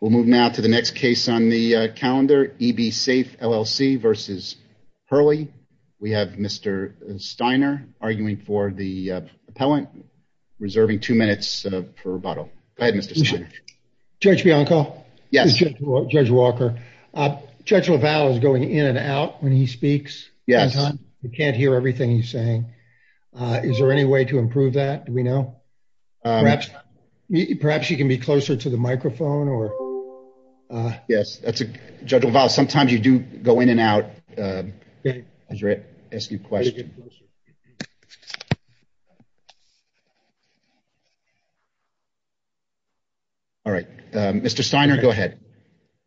We'll move now to the next case on the calendar, EB Safe LLC v. Hurley. We have Mr. Steiner arguing for the appellant, reserving two minutes per rebuttal. Go ahead, Mr. Steiner. Judge Bianco? Yes. Judge Walker. Judge LaValle is going in and out when he speaks. Yes. You can't hear everything he's saying. Is there any way to improve that, do we know? Perhaps you can be closer to the microphone? Yes, Judge LaValle, sometimes you do go in and out as you're asking questions. All right, Mr. Steiner, go ahead.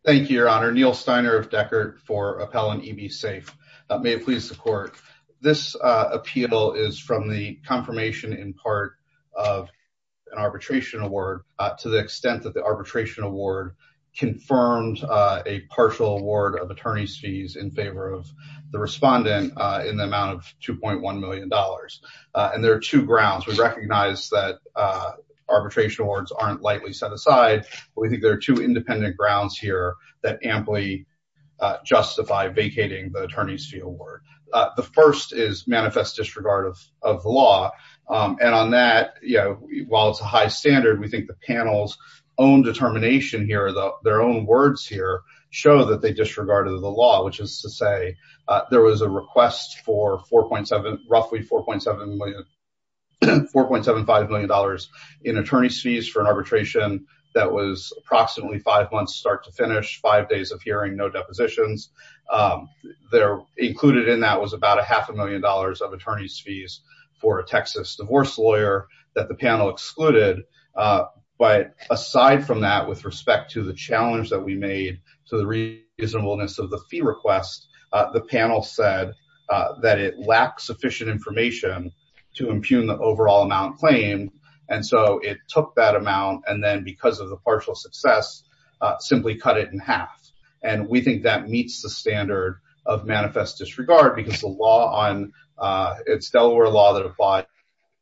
Thank you, Your Honor. Neil Steiner of Deckert for appellant, EB Safe. May it please the court. This appeal is from the confirmation in part of an arbitration award to the extent that the arbitration award confirmed a partial award of attorney's fees in favor of the respondent in the amount of $2.1 million. And there are two grounds. We recognize that arbitration awards aren't lightly set aside, but we think there are two independent grounds here that amply justify vacating the attorney's fee award. The first is manifest disregard of the law, and on that, while it's a high standard, we think the panels own determination here, their own words here show that they disregarded the law, which is to say there was a request for roughly $4.75 million in attorney's fees for an arbitration that was approximately five months start to finish, five days of hearing, no depositions. Included in that was about a half a million dollars of attorney's fees for a Texas divorce lawyer that the panel had. Aside from that, with respect to the challenge that we made to the reasonableness of the fee request, the panel said that it lacked sufficient information to impugn the overall amount claimed, and so it took that amount and then because of the partial success simply cut it in half. And we think that meets the standard of manifest disregard because the law on, it's Delaware law that applies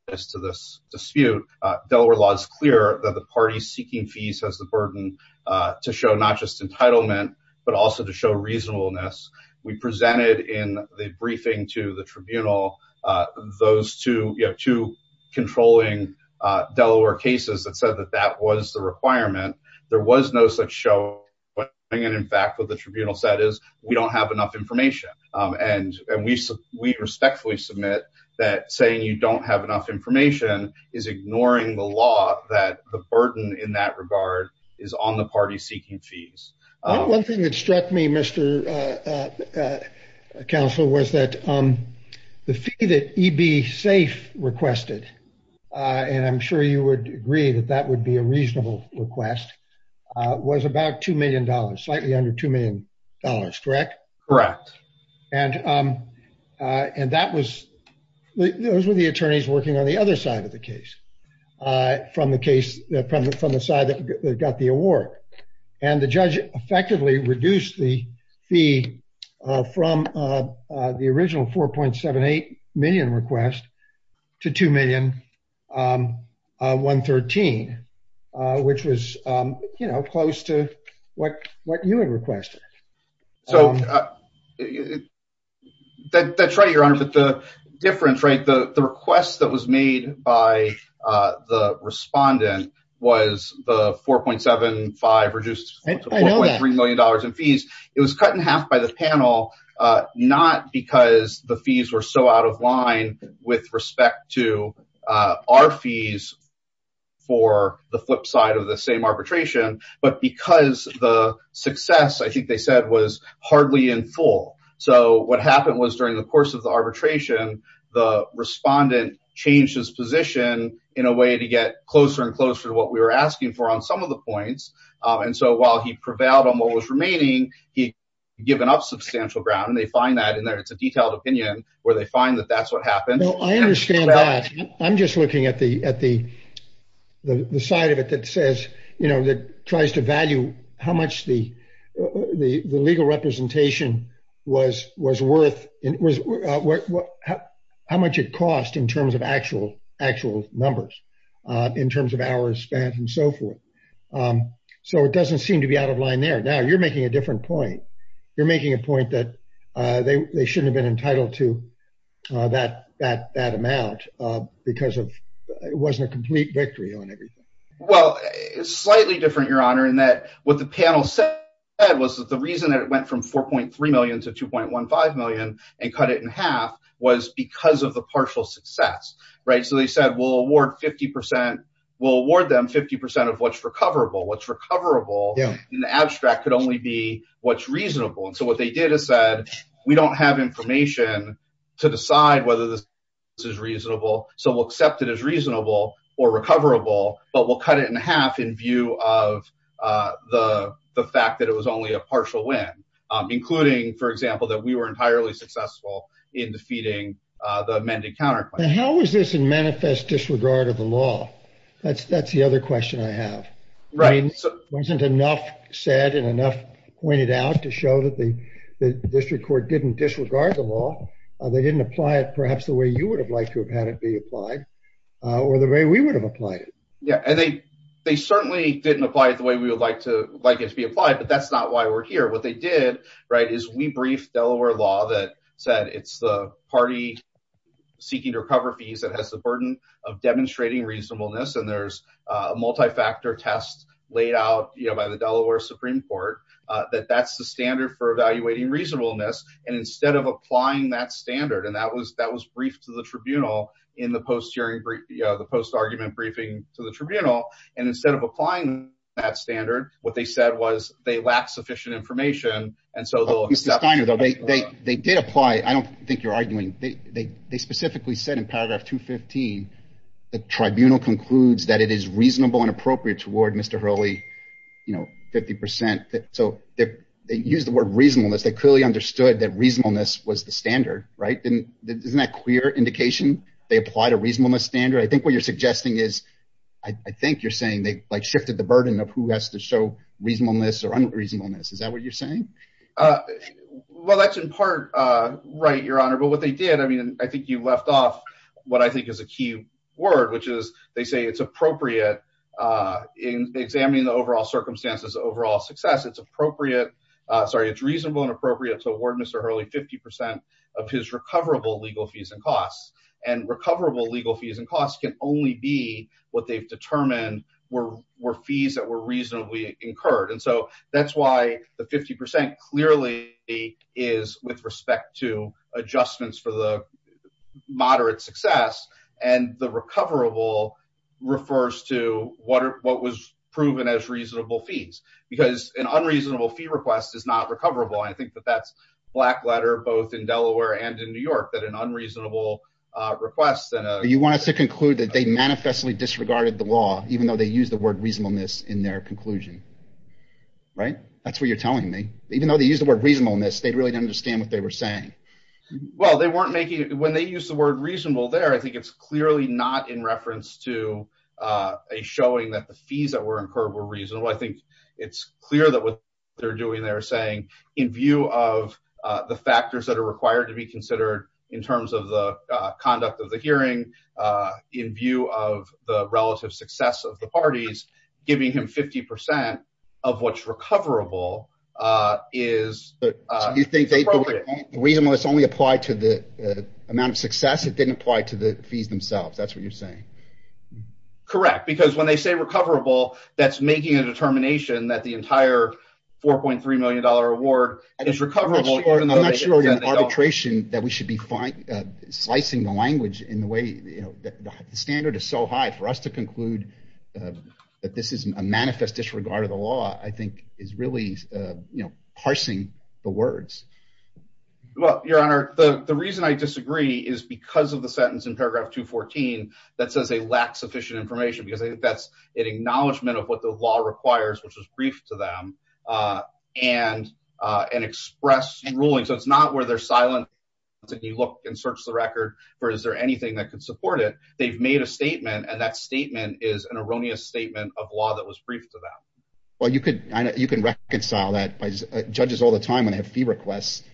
to this dispute. Delaware law is clear that the party seeking fees has the burden to show not just entitlement, but also to show reasonableness. We presented in the briefing to the tribunal those two controlling Delaware cases that said that that was the requirement. There was no such showing, and in fact what the tribunal said is we don't have enough information, and we respectfully submit that saying you don't have enough information is ignoring the law that the burden in that regard is on the party seeking fees. One thing that struck me, Mr. Counselor, was that the fee that EB SAFE requested, and I'm sure you would agree that that would be a reasonable request, was about two million dollars, slightly under two million dollars, correct? Correct. And that was, those were the attorneys working on the other side of the case, from the case, from the side that got the award. And the judge effectively reduced the fee from the original 4.78 million request to 2,113, which was, you know, close to what you had requested. So that's right, Your Honor, but the difference, right, the request that was made by the respondent was the 4.75 reduced to 4.3 million dollars in fees. It was cut in half by the panel, not because the fees were so out of line with respect to our fees for the flip side of the same arbitration, but because the success, I think they said, was the respondent changed his position in a way to get closer and closer to what we were asking for on some of the points. And so while he prevailed on what was remaining, he'd given up substantial ground, and they find that in their, it's a detailed opinion, where they find that that's what happened. No, I understand that. I'm just looking at the side of it that says, you know, that tries to value how much the how much it cost in terms of actual numbers, in terms of hours spent, and so forth. So it doesn't seem to be out of line there. Now, you're making a different point. You're making a point that they shouldn't have been entitled to that amount because it wasn't a complete victory on everything. Well, it's slightly different, Your Honor, in that what the panel said was that the reason that it went from 4.3 million to 2.15 million and cut it in half was because of the partial success, right? So they said, we'll award them 50 percent of what's recoverable. What's recoverable in the abstract could only be what's reasonable. And so what they did is said, we don't have information to decide whether this is reasonable, so we'll accept it as reasonable or recoverable, but we'll cut it in half in view of the fact that it was only a partial win, including, for example, that we were entirely successful in defeating the amended counterclaim. How is this a manifest disregard of the law? That's the other question I have. Right. Wasn't enough said and enough pointed out to show that the district court didn't disregard the law? They didn't apply it perhaps the way you would have liked to have had it be applied or the way we would have applied it? Yeah, and they certainly didn't apply it the way we would like it to be applied, but that's not why we're here. What they did, right, is we briefed Delaware law that said it's the party seeking to recover fees that has the burden of demonstrating reasonableness. And there's a multifactor test laid out by the Delaware Supreme Court that that's the standard for evaluating reasonableness. And instead of applying that standard, and that was that was briefed to the tribunal in the post hearing, the post argument briefing to the tribunal. And instead of applying that standard, what they said was they lacked sufficient information. And so they did apply. I don't think you're arguing. They specifically said in paragraph 215, the tribunal concludes that it is reasonable and appropriate toward Mr. Hurley, you know, 50 percent. So they use the word reasonableness. They clearly understood that reasonableness was the standard, right? Isn't that a clear indication they applied a reasonableness standard? I think what you're suggesting is I think you're saying they like shifted the burden of who has to show reasonableness or reasonableness. Is that what you're saying? Well, that's in part right, your honor. But what they did, I mean, I think you left off what I think is a key word, which is they say it's appropriate in examining the overall circumstances, overall success. It's appropriate. Sorry, it's reasonable and appropriate to award Mr. Hurley 50 percent of his recoverable legal fees and costs and recoverable legal fees and costs can only be what they've determined were fees that were reasonably incurred. And so that's why the 50 percent clearly is with respect to adjustments for the moderate success and the recoverable refers to what was proven as reasonable fees, because an unreasonable fee request is not recoverable. And I think that that's black letter, both in Delaware and in New York, that an unreasonable request. You want us to conclude that they manifestly disregarded the law, even though they use the word reasonableness in their conclusion, right? That's what you're telling me. Even though they use the word reasonableness, they really don't understand what they were saying. Well, they weren't making it when they use the word reasonable there. I think it's clearly not in reference to a showing that the fees that were incurred were reasonable. I think it's clear that what they're doing, they're saying in view of the factors that are required to be considered in terms of the conduct of the hearing, in view of the relative success of the parties, giving him 50 percent of what's recoverable is appropriate. So you think the reasonableness only applied to the amount of success. It didn't apply to the fees themselves. That's what you're saying. Correct. Because when they say recoverable, that's making a determination that the entire $4.3 million award is recoverable. I'm not sure in arbitration that we should slicing the language in the way the standard is so high for us to conclude that this is a manifest disregard of the law, I think, is really parsing the words. Well, your honor, the reason I disagree is because of the sentence in paragraph 214 that says they lack sufficient information, because I think that's an acknowledgement of what the law requires, which is brief to them and express ruling. So it's not where they're silent and you look and search the record for, is there anything that could support it? They've made a statement and that statement is an erroneous statement of law that was briefed to them. Well, you can reconcile that. Judges all the time when they have fee requests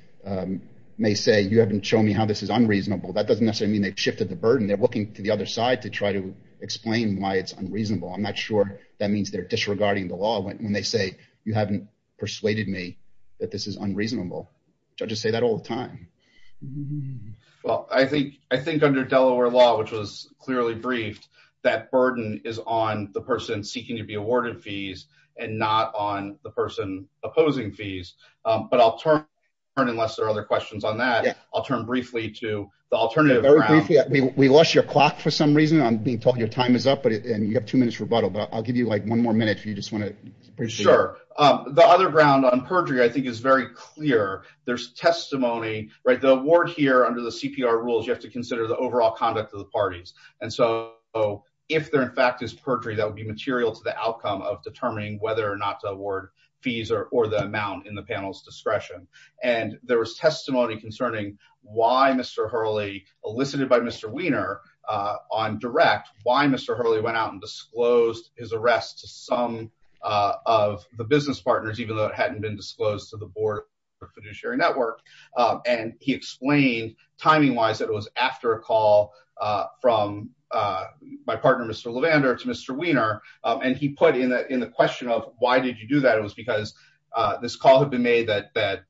may say, you haven't shown me how this is unreasonable. That doesn't necessarily mean they've shifted the burden. They're looking to the other side to try to explain why it's unreasonable. I'm not sure that means they're disregarding the law when they say you haven't that this is unreasonable. Judges say that all the time. Well, I think under Delaware law, which was clearly briefed, that burden is on the person seeking to be awarded fees and not on the person opposing fees. But I'll turn unless there are other questions on that. I'll turn briefly to the alternative. Very briefly, we lost your clock for some reason. I'm being told your time is up and you have two minutes rebuttal, but I'll give you like one more minute if you just want to. Sure. The other ground on perjury, I think, is very clear. There's testimony, right? The award here under the CPR rules, you have to consider the overall conduct of the parties. And so if there in fact is perjury, that would be material to the outcome of determining whether or not to award fees or the amount in the panel's discretion. And there was testimony concerning why Mr. Hurley, elicited by Mr. Weiner on direct, why Mr. Hurley went out and disclosed his arrest to some of the business partners, even though it hadn't been disclosed to the board of the fiduciary network. And he explained timing wise that it was after a call from my partner, Mr. Levander to Mr. Weiner. And he put in the question of why did you do that? It was because this call had been made that the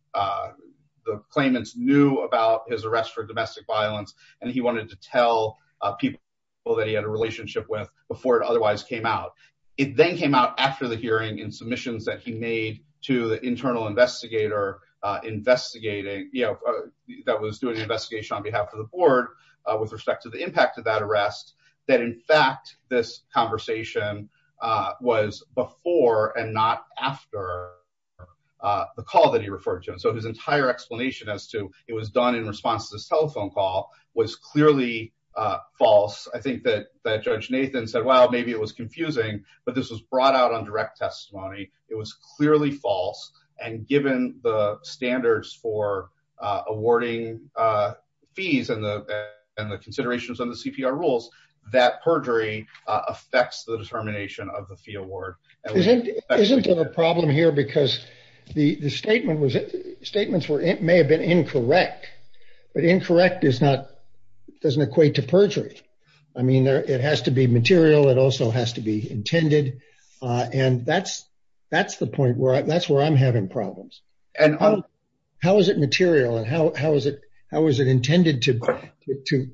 claimants knew about his arrest for domestic violence. And he wanted to tell people that he had a relationship with before it otherwise came out. It then came out after the hearing and submissions that he made to the internal investigator, investigating, you know, that was doing the investigation on behalf of the board with respect to the impact of that arrest, that in fact, this conversation was before and not after the call that he referred to. And so his entire explanation as to it was done in response to this but this was brought out on direct testimony. It was clearly false. And given the standards for awarding fees and the considerations on the CPR rules, that perjury affects the determination of the fee award. Isn't a problem here because the statement was statements were, it may have been incorrect, but incorrect is not, doesn't equate to perjury. I mean, there, it has to be intended. And that's, that's the point where that's where I'm having problems. And how is it material? And how is it? How is it intended to,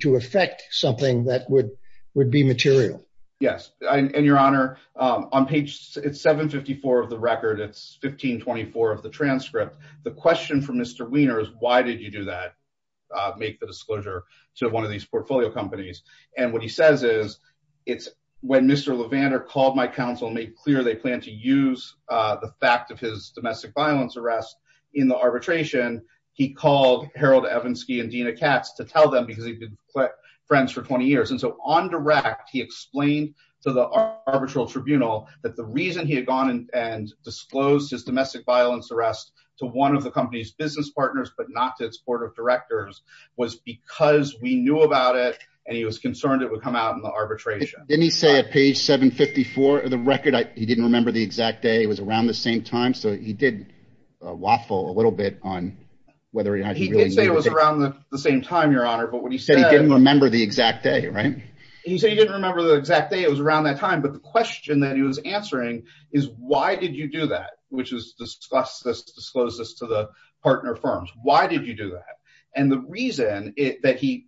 to affect something that would, would be material? Yes. And your honor, on page 754 of the record, it's 1524 of the transcript. The question from Mr. Weiner is why did you do that? Make the disclosure to one of these portfolio companies. And what he says is it's when Mr. Levander called my counsel and made clear, they plan to use the fact of his domestic violence arrest in the arbitration. He called Harold Evanski and Dina Katz to tell them because he'd been friends for 20 years. And so on direct, he explained to the arbitral tribunal that the reason he had gone and disclosed his domestic violence arrest to one of the company's business partners, but not to its board of directors was because we knew about it. And he was concerned it would come out in the arbitration. Didn't he say at page 754 of the record, he didn't remember the exact day. It was around the same time. So he did a waffle a little bit on whether or not he really knew. He did say it was around the same time, your honor. But when he said. He didn't remember the exact day, right? He said he didn't remember the exact day. It was around that time. But the question that he was answering is why did you do that? Which is to disclose this to the partner firms? Why did you do that? And the reason that he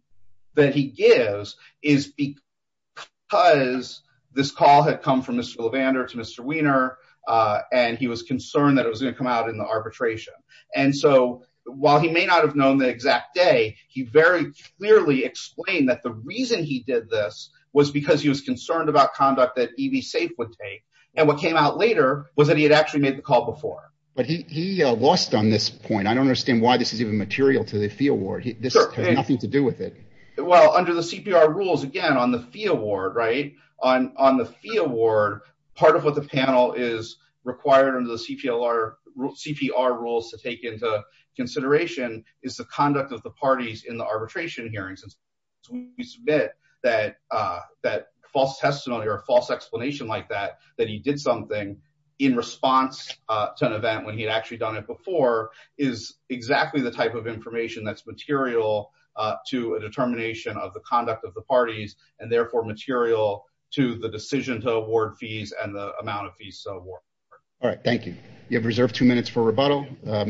that he gives is because this call had come from Mr. Levander to Mr. Weiner. And he was concerned that it was going to come out in the arbitration. And so while he may not have known the exact day, he very clearly explained that the reason he did this was because he was concerned about conduct that EV safe would take. And what came out later was that he had actually made the call before. But he lost on this point. I don't understand why this is even material to the fee award. This has nothing to do with it. Well, under the CPR rules, again, on the fee award, right on on the fee award, part of what the panel is required under the CPR rules to take into consideration is the conduct of the parties in the arbitration hearings. We submit that that false testimony or a false explanation like that, that he did something in response to an event when he had actually done it before is exactly the type of information that's material to a determination of the conduct of the parties and therefore material to the decision to award fees and the amount of fees. So all right. Thank you. You have reserved two minutes for rebuttal.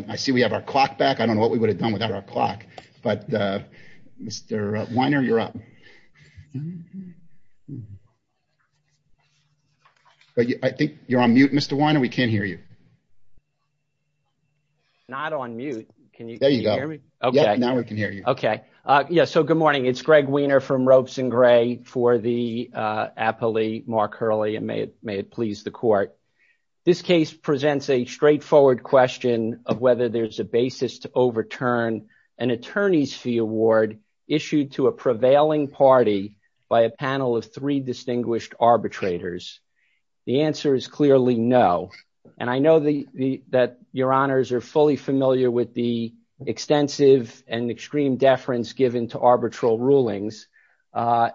I see we have our clock back. I don't know what we would have done without our clock. But Mr. Weiner, you're up. But I think you're on mute, Mr. Weiner, we can't hear you. Not on mute. Can you hear me? OK, now we can hear you. OK. Yeah. So good morning. It's Greg Weiner from Ropes and Gray for the appellee, Mark Hurley. And may it please the court. This case presents a straightforward question of whether there's a basis to overturn an attorney's fee award issued to a prevailing party by a panel of three distinguished arbitrators. The answer is clearly no. And I know that your honors are fully familiar with the extensive and extreme deference given to arbitral rulings.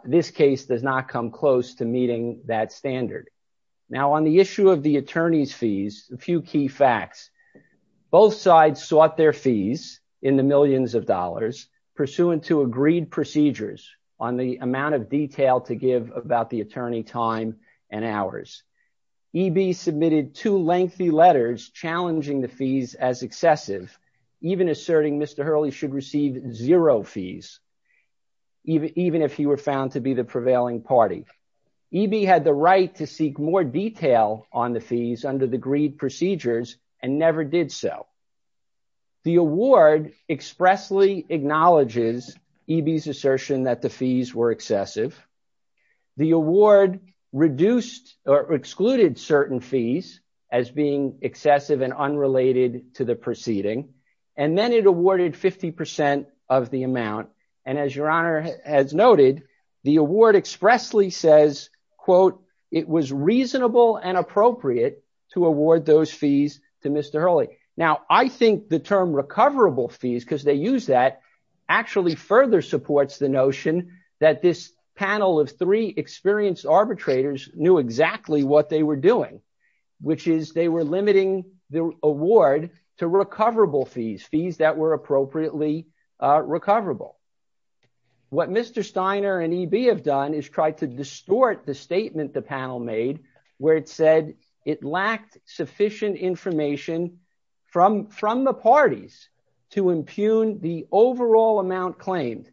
This case does not come close to meeting that standard. Now, on the issue of the attorney's fees, a few key facts. Both sides sought their fees in the millions of dollars pursuant to agreed procedures on the amount of detail to give about the attorney time and hours. EB submitted two lengthy letters challenging the fees as excessive, even asserting Mr. Hurley should receive zero fees, even if he were found to be the prevailing party. EB had the right to seek more detail on the fees under the agreed procedures and never did so. The award expressly acknowledges EB's assertion that the fees were excessive. The award reduced or excluded certain fees as being excessive and unrelated to the proceeding. And then it awarded 50% of the amount. And as your honor has noted, the award expressly says, quote, it was reasonable and appropriate to award those fees to Mr. Hurley. Now, I think the term recoverable fees, because they use that, actually further supports the notion that this panel of three experienced arbitrators knew exactly what they were doing, which is they were limiting the award to recoverable fees, fees that were appropriately recoverable. What Mr. Steiner and EB have done is tried to distort the statement the panel made, where it said it lacked sufficient information from the parties to impugn the overall amount claimed.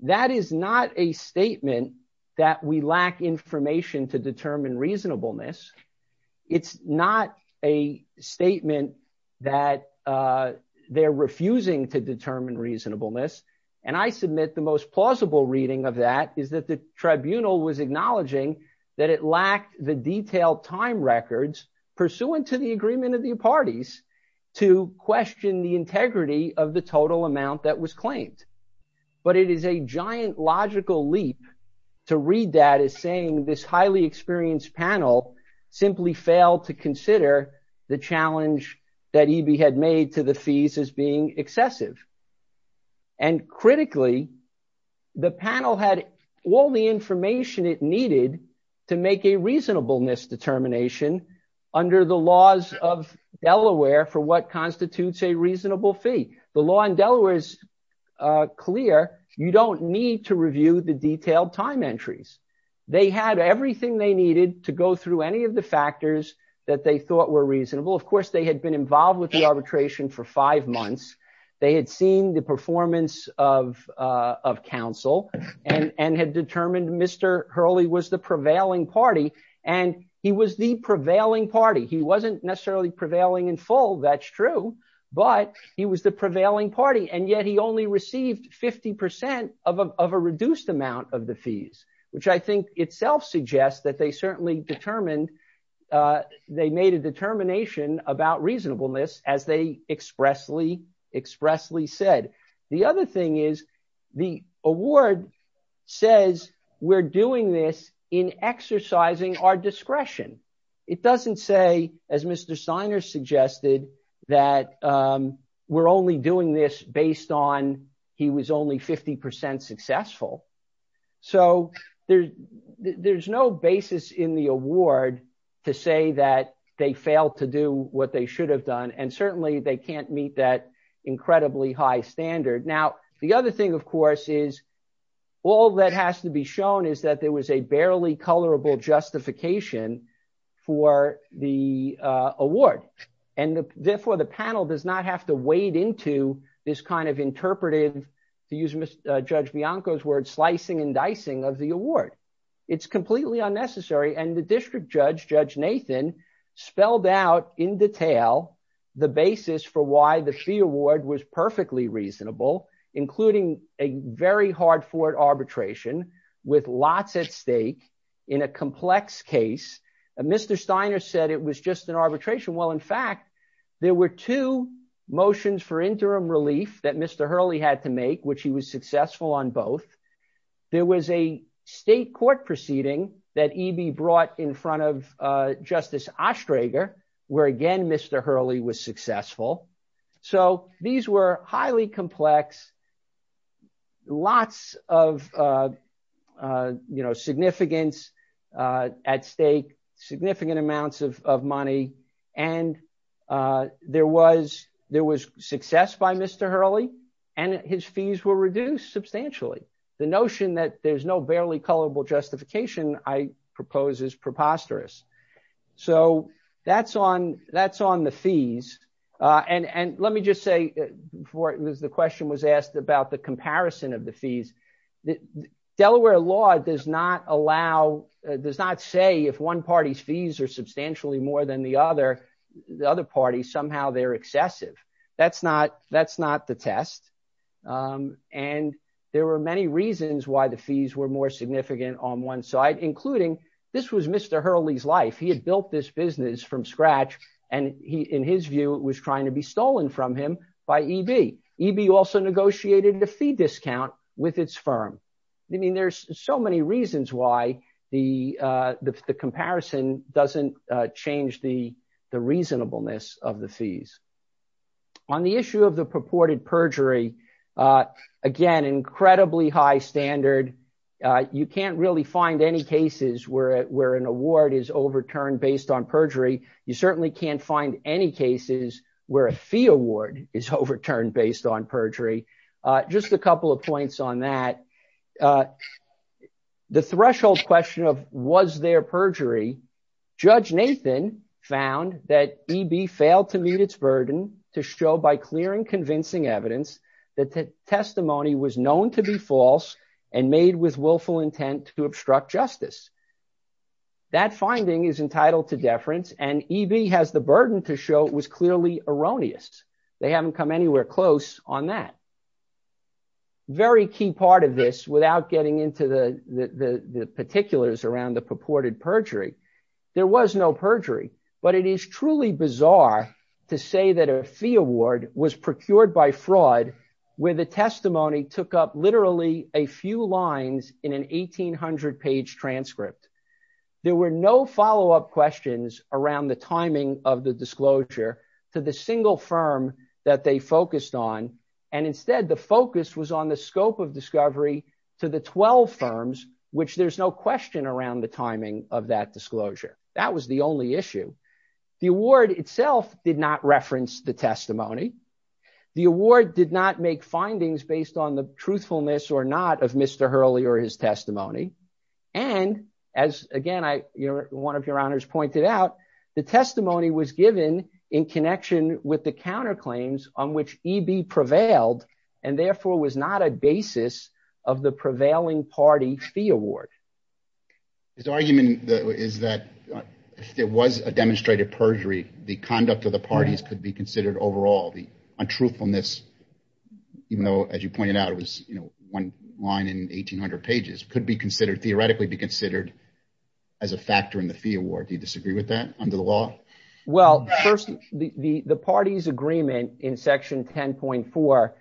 That is not a statement that we lack information to determine reasonableness. It's not a statement that they're refusing to determine reasonableness. And I submit the most plausible reading of that is that the tribunal was acknowledging that it lacked the detailed time records pursuant to the agreement of the parties to question the integrity of the total amount that was claimed. But it is a giant logical leap to read that as this highly experienced panel simply failed to consider the challenge that EB had made to the fees as being excessive. And critically, the panel had all the information it needed to make a reasonableness determination under the laws of Delaware for what constitutes a reasonable fee. The law in Delaware is clear. You don't need to review the detailed time entries. They had everything they needed to go through any of the factors that they thought were reasonable. Of course, they had been involved with the arbitration for five months. They had seen the performance of counsel and had determined Mr. Hurley was the prevailing party. And he was the prevailing party. He wasn't necessarily prevailing in full, that's true, but he was the prevailing party. And yet he only received 50% of a reduced amount of the fees, which I think itself suggests that they certainly determined, they made a determination about reasonableness as they expressly, expressly said. The other thing is the award says we're doing this in exercising our discretion. It doesn't say, as Mr. Steiner suggested, that we're only doing this based on he was only 50% successful. So there's no basis in the award to say that they failed to do what they should have done. And certainly they can't meet that incredibly high standard. Now, the other thing is the panel does not have to weigh into this kind of interpretive, to use Judge Bianco's word, slicing and dicing of the award. It's completely unnecessary. And the district judge, Judge Nathan, spelled out in detail the basis for why the fee award was perfectly reasonable, including a very hard forward arbitration with lots at stake in a complex case. Mr. Steiner said it was just an arbitration. Well, in fact, there were two motions for interim relief that Mr. Hurley had to make, which he was successful on both. There was a state court proceeding that EB brought in front of Justice Ostrager, where again, Mr. Hurley was successful. So these were highly complex, lots of significance at stake, significant amounts of money. And there was success by Mr. Hurley, and his fees were reduced substantially. The notion that there's no barely culpable justification I propose is preposterous. So that's on the fees. And let me just say, before the question was asked about the comparison of the fees, Delaware law does not allow, does not say if one party's fees are substantially more than the other, the other party, somehow they're excessive. That's not the test. And there were many reasons why the on one side, including this was Mr. Hurley's life. He had built this business from scratch, and he, in his view, was trying to be stolen from him by EB. EB also negotiated a fee discount with its firm. I mean, there's so many reasons why the comparison doesn't change the reasonableness of the fees. On the issue of the purported perjury, again, incredibly high standard. You can't really find any cases where an award is overturned based on perjury. You certainly can't find any cases where a fee award is overturned based on perjury. Just a couple of points on that. The threshold question of was there perjury, Judge Nathan found that EB failed to meet its burden to show by clear and convincing evidence that the testimony was known to be false and made with willful intent to obstruct justice. That finding is entitled to deference and EB has the burden to show it was clearly erroneous. They haven't come anywhere close on that. Very key part of this without getting into the particulars around the purported perjury, there was no perjury. But it is truly bizarre to say that a fee award was procured by fraud where the testimony took up literally a few lines in an 1800-page transcript. There were no follow-up questions around the timing of the disclosure to the single firm that they focused on. And instead, the focus was on the scope of discovery to the 12 firms, which there's no question around the timing of that disclosure. That was the only issue. The award itself did not reference the testimony. The award did not make findings based on the truthfulness or not of Mr. Hurley or his testimony. And as again, one of your honors pointed out, the testimony was given in connection with the counterclaims on which EB prevailed and therefore was not a basis of the prevailing party fee award. His argument is that if there was a demonstrated perjury, the conduct of the parties could be considered overall the untruthfulness, even though, as you pointed out, it was, you know, one line in 1800 pages could be considered theoretically be considered as a factor in the fee award. Do you disagree with that under the law? Well, first, the party's agreement in section 10.4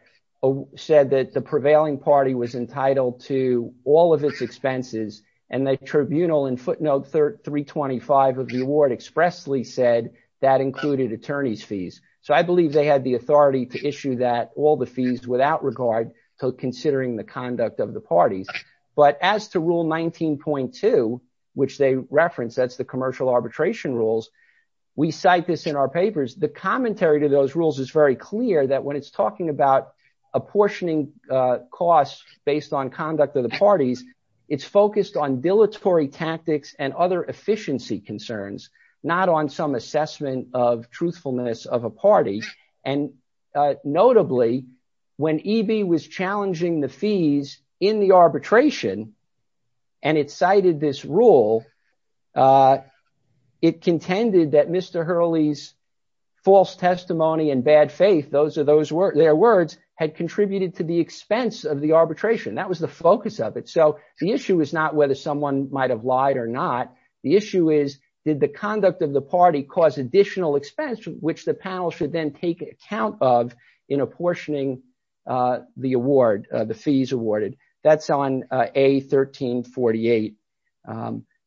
said that the prevailing party was entitled to all of its expenses. And the tribunal in footnote 325 of the award expressly said that included attorney's fees. So I believe they had the authority to issue that all the fees without regard to considering the conduct of the parties. But as to rule 19.2, which they we cite this in our papers, the commentary to those rules is very clear that when it's talking about apportioning costs based on conduct of the parties, it's focused on dilatory tactics and other efficiency concerns, not on some assessment of truthfulness of a party. And notably, when EB was challenging the fees in the arbitration, and it cited this rule, it contended that Mr. Hurley's false testimony and bad faith, those are their words, had contributed to the expense of the arbitration. That was the focus of it. So the issue is not whether someone might have lied or not. The issue is, did the conduct of the party cause additional expense, which the panel should take account of in apportioning the award, the fees awarded. That's on A1348.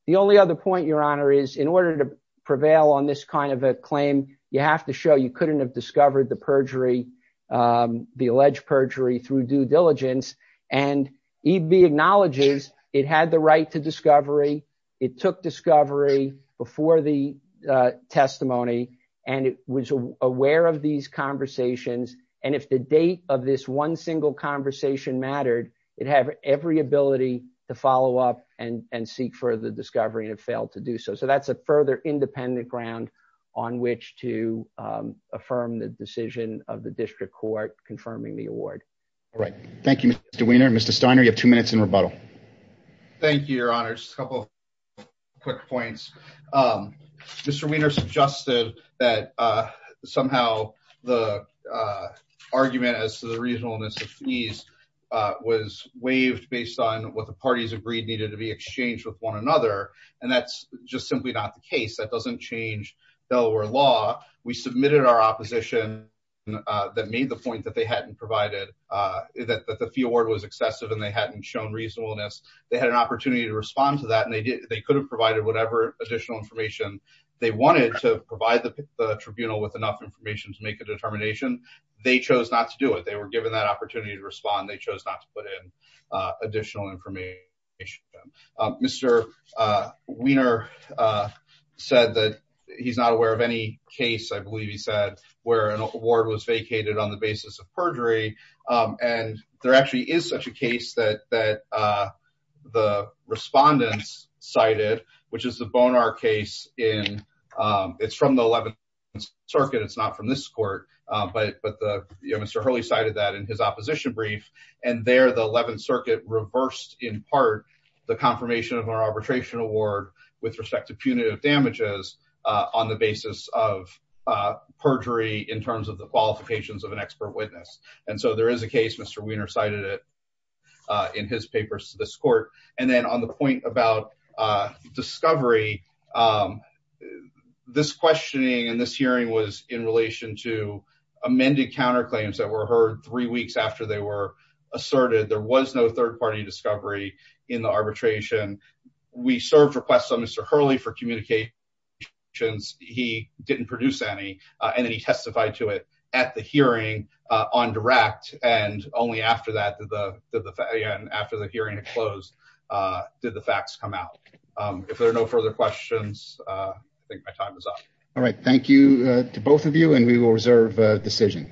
The only other point, Your Honor, is in order to prevail on this kind of a claim, you have to show you couldn't have discovered the perjury, the alleged perjury through due diligence. And EB acknowledges it had the right to discovery. It took discovery before the testimony, and it was aware of these conversations. And if the date of this one single conversation mattered, it had every ability to follow up and seek further discovery and it failed to do so. So that's a further independent ground on which to affirm the decision of the district court confirming the award. All right. Thank you, Mr. Weiner. Mr. Steiner, you have two minutes in rebuttal. Thank you, Your Honor. Just a couple quick points. Mr. Weiner suggested that somehow the argument as to the reasonableness of fees was waived based on what the parties agreed needed to be exchanged with one another. And that's just simply not the case. That doesn't change Delaware law. We submitted our opposition that made the point that the fee award was excessive and they hadn't shown reasonableness. They had an opportunity to respond to that, and they could have provided whatever additional information they wanted to provide the tribunal with enough information to make a determination. They chose not to do it. They were given that opportunity to respond. They chose not to put in additional information. Mr. Weiner said that he's not aware of any case, I believe he said, where an award was vacated on the basis of perjury. And there actually is such a case that the respondents cited, which is the Bonar case. It's from the 11th Circuit. It's not from this court. But Mr. Hurley cited that in his opposition brief. And there the 11th Circuit reversed in part the confirmation of our arbitration award with respect to punitive damages on the basis of perjury in terms of the qualifications of an expert witness. And so there is a case, Mr. Weiner cited it in his papers to this court. And then on the point about discovery, this questioning and this hearing was in relation to amended counterclaims that were heard three weeks after they were asserted. There was no third party discovery in the arbitration. We served requests on Mr. Hurley for communications. He didn't produce any, and then he testified to it at the hearing on direct. And only after the hearing had closed did the facts come out. If there are no further questions, I think my time is up. All right. Thank you to both of you, and we will reserve a decision.